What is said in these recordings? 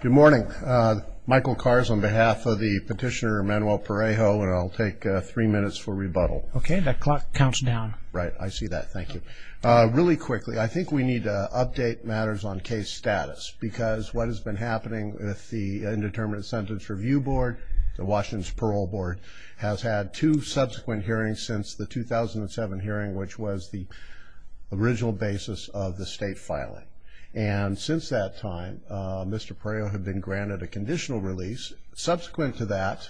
Good morning, Michael Kars on behalf of the petitioner Manuel Parejo, and I'll take three minutes for rebuttal. Okay, that clock counts down. Right, I see that. Thank you. Really quickly, I think we need to update matters on case status because what has been happening with the Indeterminate Sentence Review Board, the Washington's Parole Board, has had two subsequent hearings since the 2007 hearing, which was the original basis of the state filing. And since that time, Mr. Parejo had been granted a conditional release. Subsequent to that,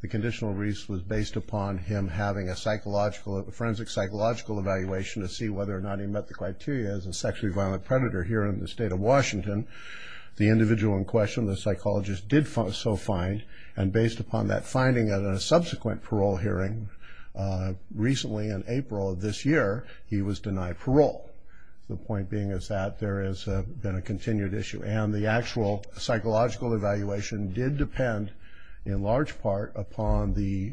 the conditional release was based upon him having a forensic psychological evaluation to see whether or not he met the criteria as a sexually violent predator here in the state of Washington. The individual in question, the psychologist, did so find, and based upon that finding at a subsequent parole hearing recently in April of this year, he was denied parole. The point being is that there has been a continued issue, and the actual psychological evaluation did depend in large part upon the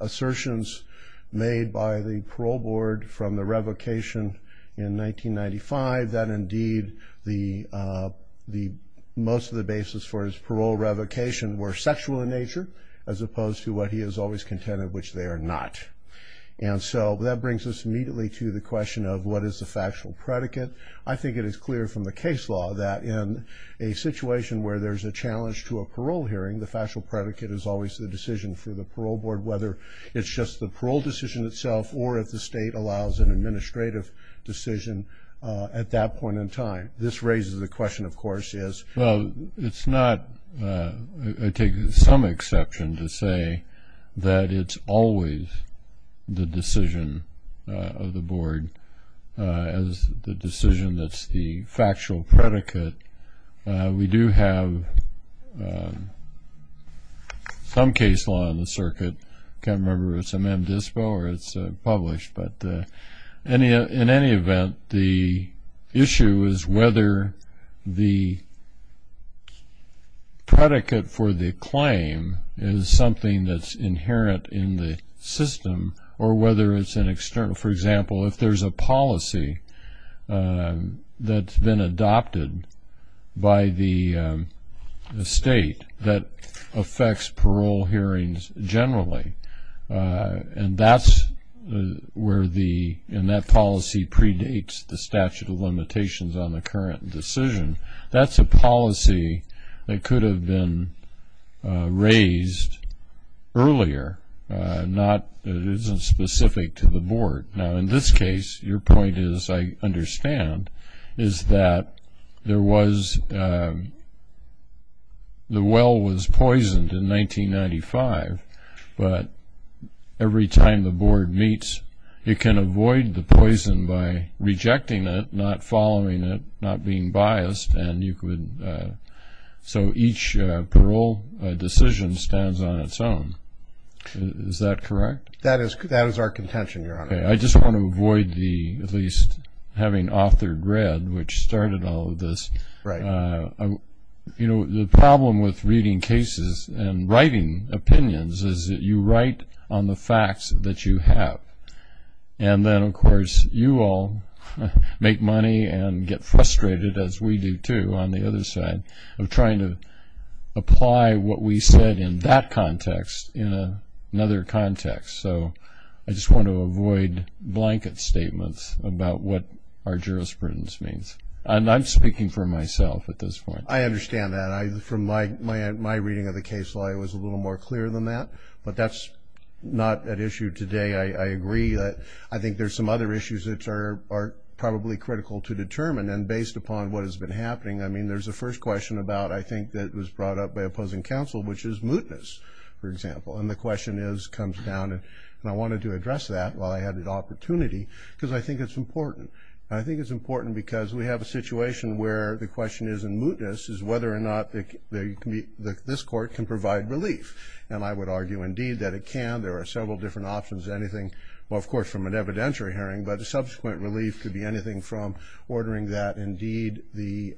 assertions made by the parole board from the revocation in 1995 that indeed most of the basis for his parole revocation were sexual in nature as opposed to what he has always contended, which they are not. And so that brings us immediately to the question of what is the factual predicate. I think it is clear from the case law that in a situation where there's a challenge to a parole hearing, the factual predicate is always the decision for the parole board, whether it's just the parole decision itself or if the state allows an administrative decision at that point in time. This raises the question, of course, is... I take some exception to say that it's always the decision of the board as the decision that's the factual predicate. We do have some case law in the circuit. I can't remember if it's M-DISPO or it's published, but in any event, the issue is whether the predicate for the claim is something that's inherent in the system or whether it's an external. For example, if there's a policy that's been adopted by the state that affects parole hearings generally, and that's where the... and that policy predates the statute of limitations on the current decision, that's a policy that could have been raised earlier, not... it isn't specific to the board. Now in this case, your point is, I understand, is that there was... the well was poisoned in 1995, but every time the board meets, you can avoid the poison by rejecting it, not following it, not being biased, and you could... so each parole decision stands on its own. Is that correct? That is our contention, Your Honor. I just want to avoid the... at least having authored red, which started all of this. Right. You know, the problem with reading cases and writing opinions is that you write on the facts that you have. And then, of course, you all make money and get frustrated, as we do too, on the other side, of trying to apply what we said in that context in another context. So I just want to avoid blanket statements about what our jurisprudence means. I'm speaking for myself at this point. I understand that. From my reading of the case law, it was a little more clear than that, but that's not at issue today. I agree that I think there's some other issues that are probably critical to determine, and based upon what has been happening, I mean, there's a first question about, I think, that was brought up by opposing counsel, which is mootness, for example. And the question comes down, and I wanted to address that while I had the opportunity, because I think it's important. I think it's important because we have a situation where the question is, in mootness, is whether or not this court can provide relief. And I would argue, indeed, that it can. There are several different options. Anything, well, of course, from an evidentiary hearing, but a subsequent relief could be anything from ordering that, indeed, the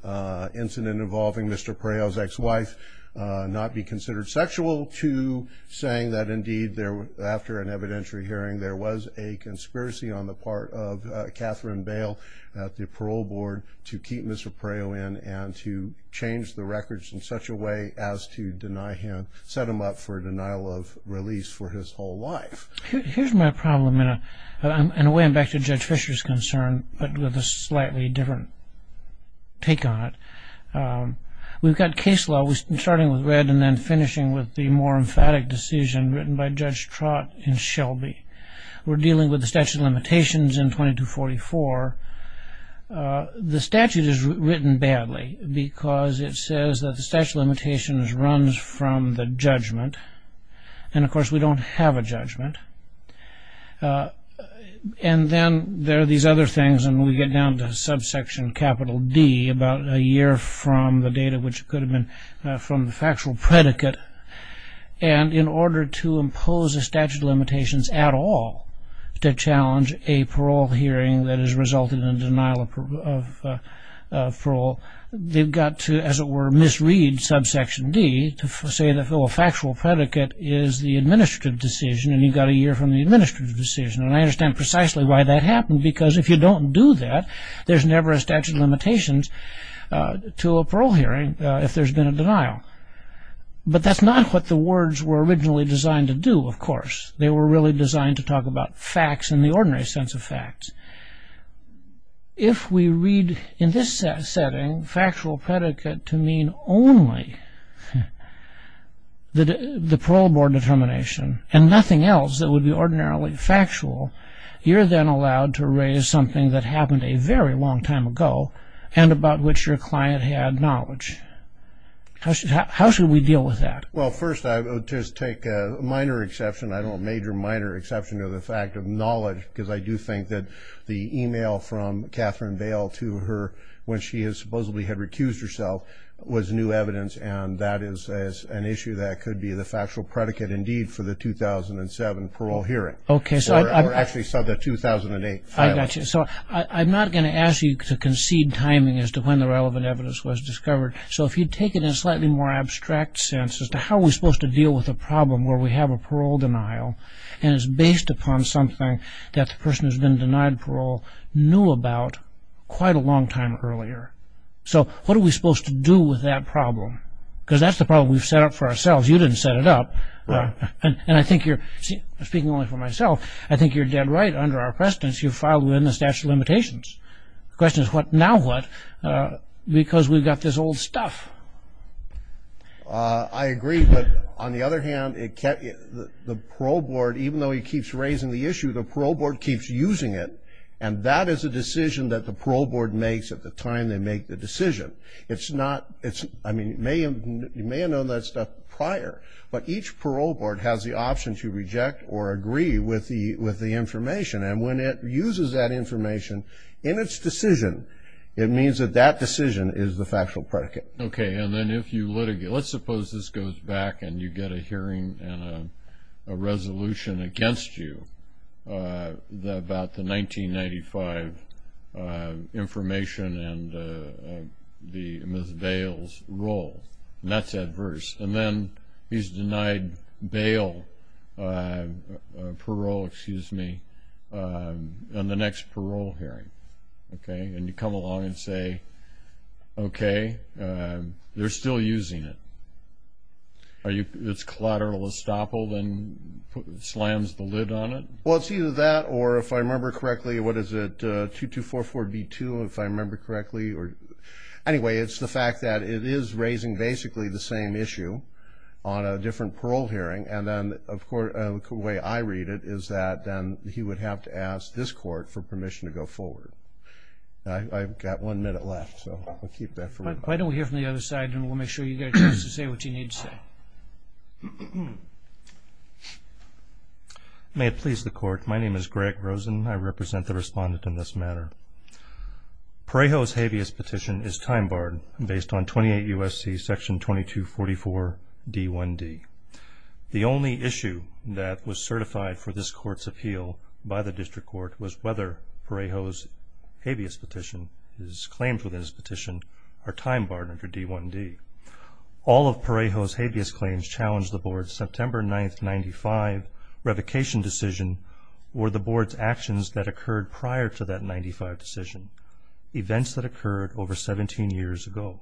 incident involving Mr. Pereo's ex-wife not be considered sexual to saying that, indeed, after an evidentiary hearing, there was a conspiracy on the part of Catherine Bale at the parole board to keep Mr. Pereo in and to change the records in such a way as to deny him, set him up for denial of release for his whole life. Here's my problem, and in a way I'm back to Judge Fisher's concern, but with a slightly different take on it. We've got case law starting with red and then finishing with the more emphatic decision written by Judge Trott in Shelby. We're dealing with the statute of limitations in 2244. The statute is written badly because it says that the statute of limitations runs from the judgment. And, of course, we don't have a judgment. And then there are these other things, and we get down to subsection capital D, about a year from the date of which it could have been from the factual predicate. And in order to impose a statute of limitations at all to challenge a parole hearing that has resulted in a denial of parole, they've got to, as it were, misread subsection D to say the factual predicate is the administrative decision, and you've got a year from the administrative decision. And I understand precisely why that happened, because if you don't do that, there's never a statute of limitations to a parole hearing if there's been a denial. But that's not what the words were originally designed to do, of course. They were really designed to talk about facts in the ordinary sense of facts. If we read in this setting factual predicate to mean only the parole board determination and nothing else that would be ordinarily factual, you're then allowed to raise something that happened a very long time ago and about which your client had knowledge. How should we deal with that? Well, first I would just take a minor exception, I don't know, a major minor exception to the fact of knowledge, because I do think that the e-mail from Catherine Bale to her when she supposedly had recused herself was new evidence, and that is an issue that could be the factual predicate indeed for the 2007 parole hearing. Okay. Or actually, so the 2008 filing. I got you. So I'm not going to ask you to concede timing as to when the relevant evidence was discovered. So if you take it in a slightly more abstract sense as to how we're supposed to deal with a problem where we have a parole denial and it's based upon something that the person who's been denied parole knew about quite a long time earlier. So what are we supposed to do with that problem? Because that's the problem we've set up for ourselves. You didn't set it up. And I think you're, speaking only for myself, I think you're dead right under our precedence you filed within the statute of limitations. The question is what now what, because we've got this old stuff. I agree, but on the other hand, the parole board, even though he keeps raising the issue, the parole board keeps using it, and that is a decision that the parole board makes at the time they make the decision. It's not, I mean, you may have known that stuff prior, but each parole board has the option to reject or agree with the information, and when it uses that information in its decision, it means that that decision is the factual predicate. Okay, and then if you litigate, let's suppose this goes back and you get a hearing and a resolution against you about the 1995 information and Ms. Bales' role, and that's adverse. And then he's denied bail, parole, excuse me, on the next parole hearing. Okay, and you come along and say, okay, they're still using it. Its collateral estoppel then slams the lid on it? Well, it's either that or, if I remember correctly, what is it, 2244B2, if I remember correctly. Anyway, it's the fact that it is raising basically the same issue on a different parole hearing, and then the way I read it is that then he would have to ask this court for permission to go forward. I've got one minute left, so I'll keep that for later. Why don't we hear from the other side, and we'll make sure you get a chance to say what you need to say. May it please the Court, my name is Greg Rosen. I represent the respondent in this matter. Parejo's habeas petition is time barred based on 28 U.S.C. section 2244D1D. The only issue that was certified for this Court's appeal by the district court was whether Parejo's habeas petition, his claims within his petition, are time barred under D1D. All of Parejo's habeas claims challenge the Board's September 9, 1995, revocation decision or the Board's actions that occurred prior to that 1995 decision, events that occurred over 17 years ago.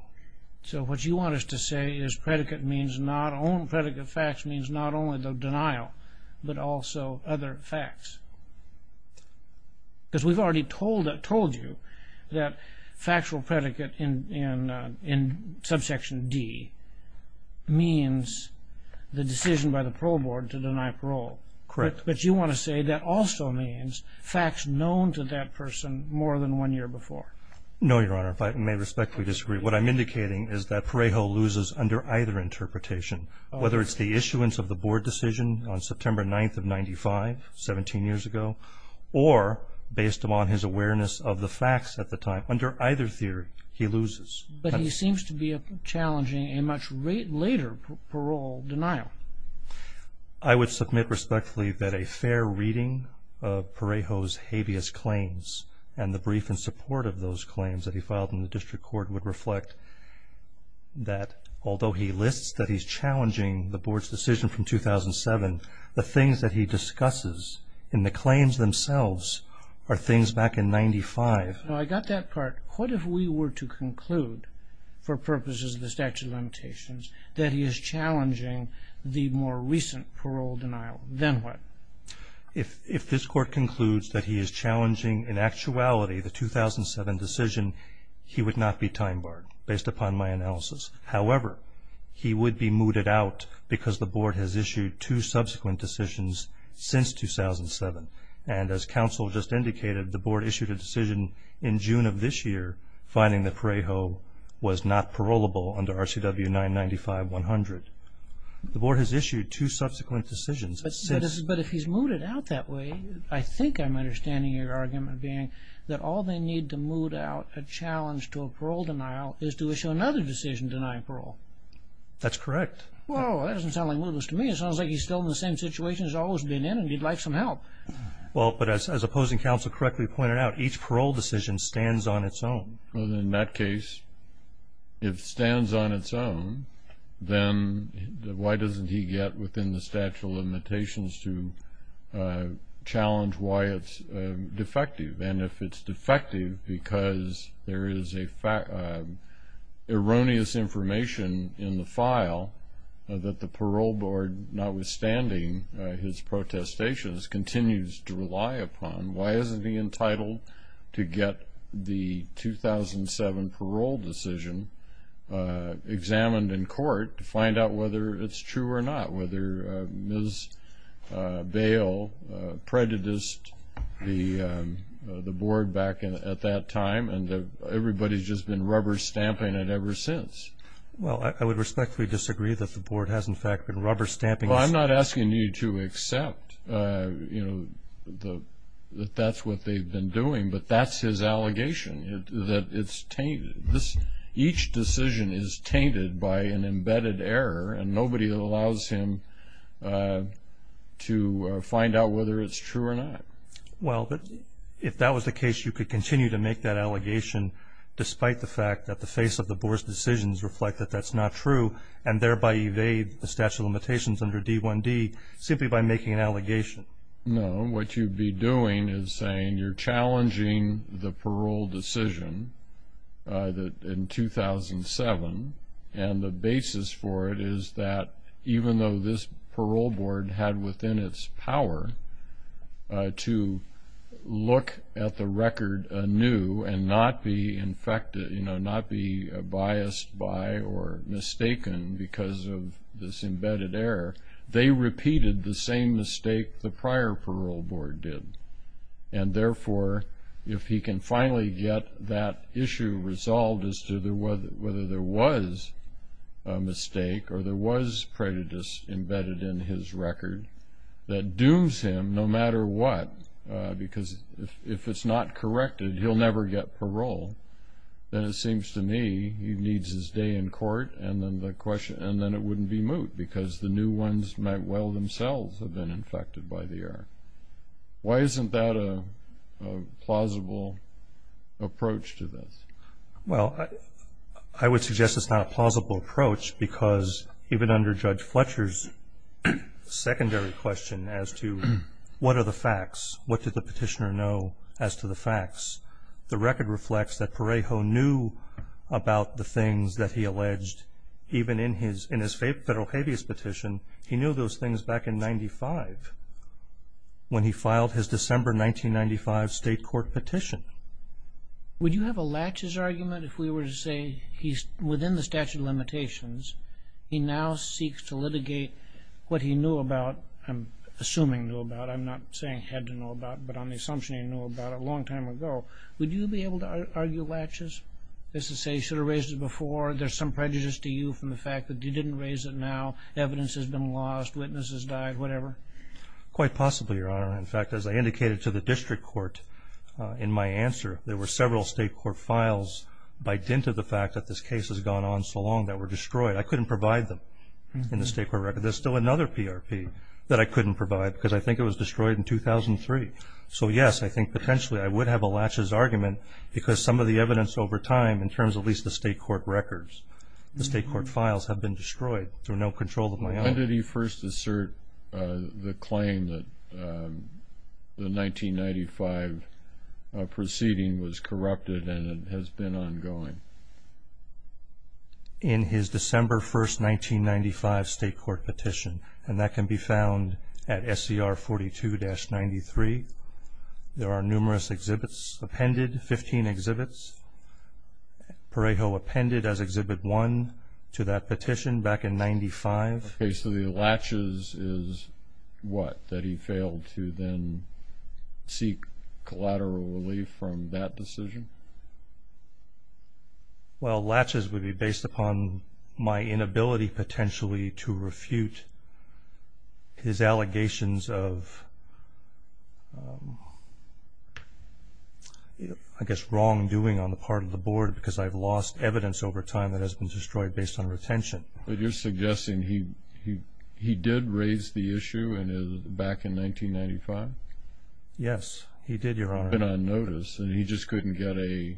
So what you want us to say is predicate means not only the denial, but also other facts. Because we've already told you that factual predicate in subsection D means the decision by the parole board to deny parole. Correct. But you want to say that also means facts known to that person more than one year before. No, Your Honor, if I may respectfully disagree. What I'm indicating is that Parejo loses under either interpretation, whether it's the issuance of the Board decision on September 9, 1995, 17 years ago, or based upon his awareness of the facts at the time, under either theory, he loses. But he seems to be challenging a much later parole denial. I would submit respectfully that a fair reading of Parejo's habeas claims and the brief in support of those claims that he filed in the district court would reflect that although he lists that he's challenging the Board's decision from 2007, the things that he discusses in the claims themselves are things back in 1995. I got that part. What if we were to conclude for purposes of the statute of limitations that he is challenging the more recent parole denial? Then what? If this Court concludes that he is challenging in actuality the 2007 decision, he would not be time-barred based upon my analysis. However, he would be mooted out because the Board has issued two subsequent decisions since 2007. And as counsel just indicated, the Board issued a decision in June of this year finding that Parejo was not parolable under RCW 995-100. The Board has issued two subsequent decisions since... But if he's mooted out that way, I think I'm understanding your argument being that all they need to moot out a challenge to a parole denial is to issue another decision denying parole. That's correct. Well, that doesn't sound like mootless to me. It sounds like he's still in the same situation he's always been in and he'd like some help. Well, but as opposing counsel correctly pointed out, each parole decision stands on its own. In that case, if it stands on its own, then why doesn't he get within the statute of limitations to challenge why it's defective? And if it's defective because there is erroneous information in the file that the Parole Board, notwithstanding his protestations, continues to rely upon, why isn't he entitled to get the 2007 parole decision examined in court to find out whether it's true or not, whether Ms. Bail prejudiced the Board back at that time and everybody's just been rubber stamping it ever since? Well, I would respectfully disagree that the Board has, in fact, been rubber stamping this. Well, I'm not asking you to accept that that's what they've been doing, but that's his allegation, that it's tainted. Each decision is tainted by an embedded error, and nobody allows him to find out whether it's true or not. Well, but if that was the case, you could continue to make that allegation despite the fact that the face of the Board's decisions reflect that that's not true and thereby evade the statute of limitations under D1D simply by making an allegation. No. What you'd be doing is saying you're challenging the parole decision in 2007, and the basis for it is that even though this Parole Board had within its power to look at the record anew and not be biased by or mistaken because of this embedded error, they repeated the same mistake the prior Parole Board did. And therefore, if he can finally get that issue resolved as to whether there was a mistake or there was prejudice embedded in his record that dooms him no matter what, because if it's not corrected he'll never get parole, then it seems to me he needs his day in court and then it wouldn't be moot because the new ones might well themselves have been infected by the error. Why isn't that a plausible approach to this? Well, I would suggest it's not a plausible approach because even under Judge Fletcher's secondary question as to what are the facts, what did the petitioner know as to the facts, the record reflects that Parejo knew about the things that he alleged even in his federal habeas petition. He knew those things back in 1995 when he filed his December 1995 state court petition. Would you have a laches argument if we were to say he's within the statute of limitations, he now seeks to litigate what he knew about, I'm assuming knew about, I'm not saying had to know about, but on the assumption he knew about a long time ago, would you be able to argue laches as to say he should have raised it before, there's some prejudice to you from the fact that you didn't raise it now, evidence has been lost, witnesses died, whatever? Quite possibly, Your Honor. In fact, as I indicated to the district court in my answer, there were several state court files by dint of the fact that this case has gone on so long that were destroyed. I couldn't provide them in the state court record. There's still another PRP that I couldn't provide because I think it was destroyed in 2003. So, yes, I think potentially I would have a laches argument because some of the evidence over time in terms of at least the state court records, the state court files have been destroyed through no control of my own. When did he first assert the claim that the 1995 proceeding was corrupted and has been ongoing? In his December 1, 1995 state court petition, and that can be found at SCR 42-93. There are numerous exhibits appended, 15 exhibits. Perejo appended as Exhibit 1 to that petition back in 1995. Okay, so the laches is what? That he failed to then seek collateral relief from that decision? Well, laches would be based upon my inability potentially to refute his allegations of, I guess, wrongdoing on the part of the board because I've lost evidence over time that has been destroyed based on retention. But you're suggesting he did raise the issue back in 1995? Yes, he did, Your Honor. On notice, and he just couldn't get a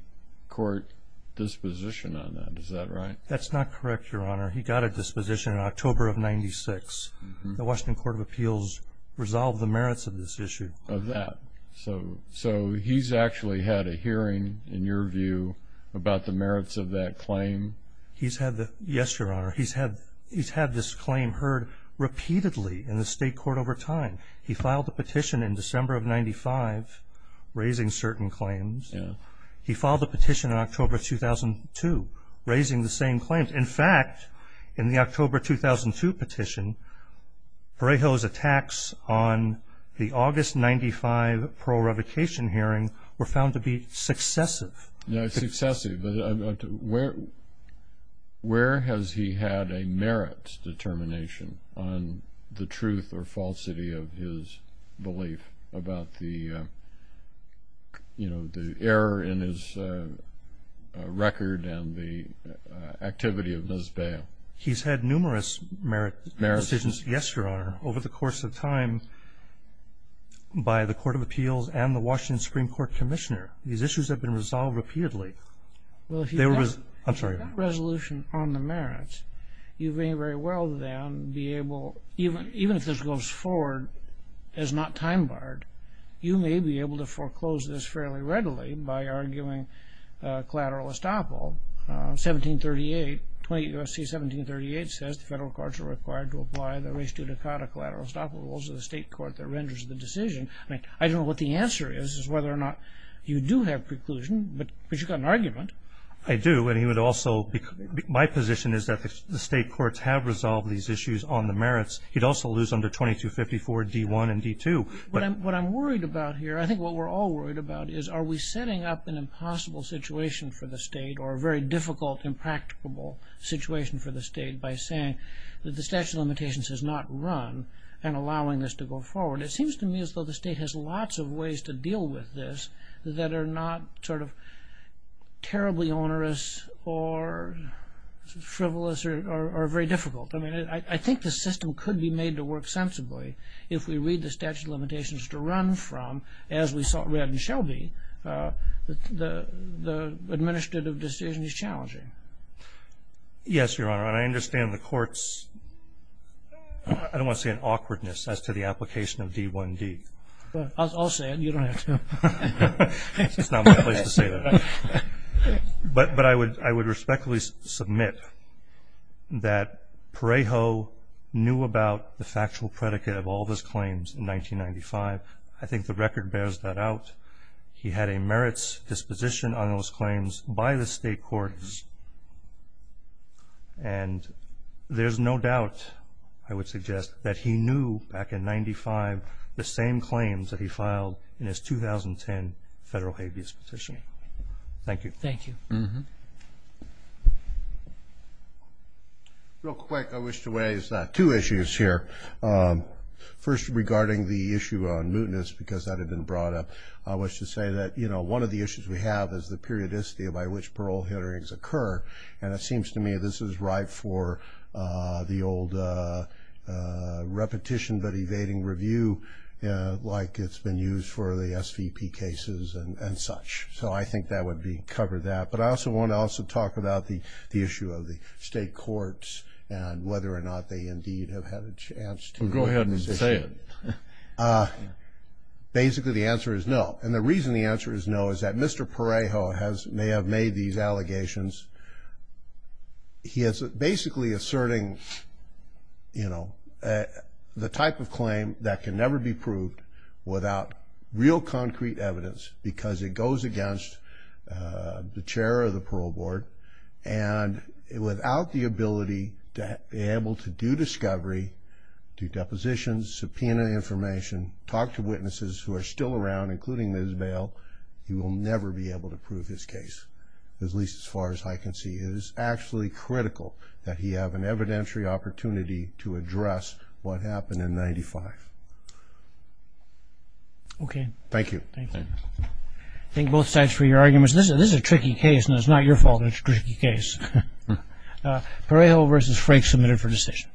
court disposition on that, is that right? That's not correct, Your Honor. He got a disposition in October of 1996. The Washington Court of Appeals resolved the merits of this issue. Of that. So he's actually had a hearing, in your view, about the merits of that claim? Yes, Your Honor. He's had this claim heard repeatedly in the state court over time. He filed a petition in December of 1995 raising certain claims. He filed a petition in October 2002 raising the same claims. And, in fact, in the October 2002 petition, Breho's attacks on the August 1995 parole revocation hearing were found to be successive. Successive. Where has he had a merits determination on the truth or falsity of his belief about the error in his record and the activity of Ms. Bale? He's had numerous merits decisions, yes, Your Honor, over the course of time by the Court of Appeals and the Washington Supreme Court Commissioner. These issues have been resolved repeatedly. Well, if you have that resolution on the merits, you may very well then be able, even if this goes forward as not time barred, you may be able to foreclose this fairly readily by arguing collateral estoppel. 1738, 28 U.S.C. 1738 says the federal courts are required to apply the res judicata collateral estoppel rules of the state court that renders the decision. I don't know what the answer is, is whether or not you do have preclusion, but you've got an argument. I do, and he would also, my position is that the state courts have resolved these issues on the merits. He'd also lose under 2254 D1 and D2. What I'm worried about here, I think what we're all worried about, is are we setting up an impossible situation for the state or a very difficult, impracticable situation for the state by saying that the statute of limitations has not run and allowing this to go forward. It seems to me as though the state has lots of ways to deal with this that are not terribly onerous or frivolous or very difficult. I think the system could be made to work sensibly if we read the statute of limitations to run from, as we read in Shelby, the administrative decision is challenging. Yes, Your Honor, and I understand the courts, I don't want to say an awkwardness as to the application of D1D. I'll say it, you don't have to. It's not my place to say that. But I would respectfully submit that Parejo knew about the factual predicate of all those claims in 1995. I think the record bears that out. He had a merits disposition on those claims by the state courts, and there's no doubt, I would suggest, that he knew back in 1995 the same claims that he filed in his 2010 federal habeas petition. Thank you. Thank you. Real quick, I wish to raise two issues here. First, regarding the issue on mootness, because that had been brought up, I wish to say that, you know, one of the issues we have is the periodicity by which parole hearings occur, and it seems to me this is right for the old repetition but evading review, like it's been used for the SVP cases and such. So I think that would cover that. But I also want to also talk about the issue of the state courts and whether or not they indeed have had a chance to. Go ahead and say it. Basically, the answer is no, and the reason the answer is no is that Mr. Parejo may have made these He is basically asserting, you know, the type of claim that can never be proved without real concrete evidence because it goes against the chair of the parole board, and without the ability to be able to do discovery, do depositions, subpoena information, talk to witnesses who are still around, including Ms. Bail, he will never be able to prove his case, at least as far as I can see. It is actually critical that he have an evidentiary opportunity to address what happened in 1995. Okay. Thank you. Thank you. Thank you both sides for your arguments. This is a tricky case, and it's not your fault it's a tricky case. Parejo versus Frake submitted for decision.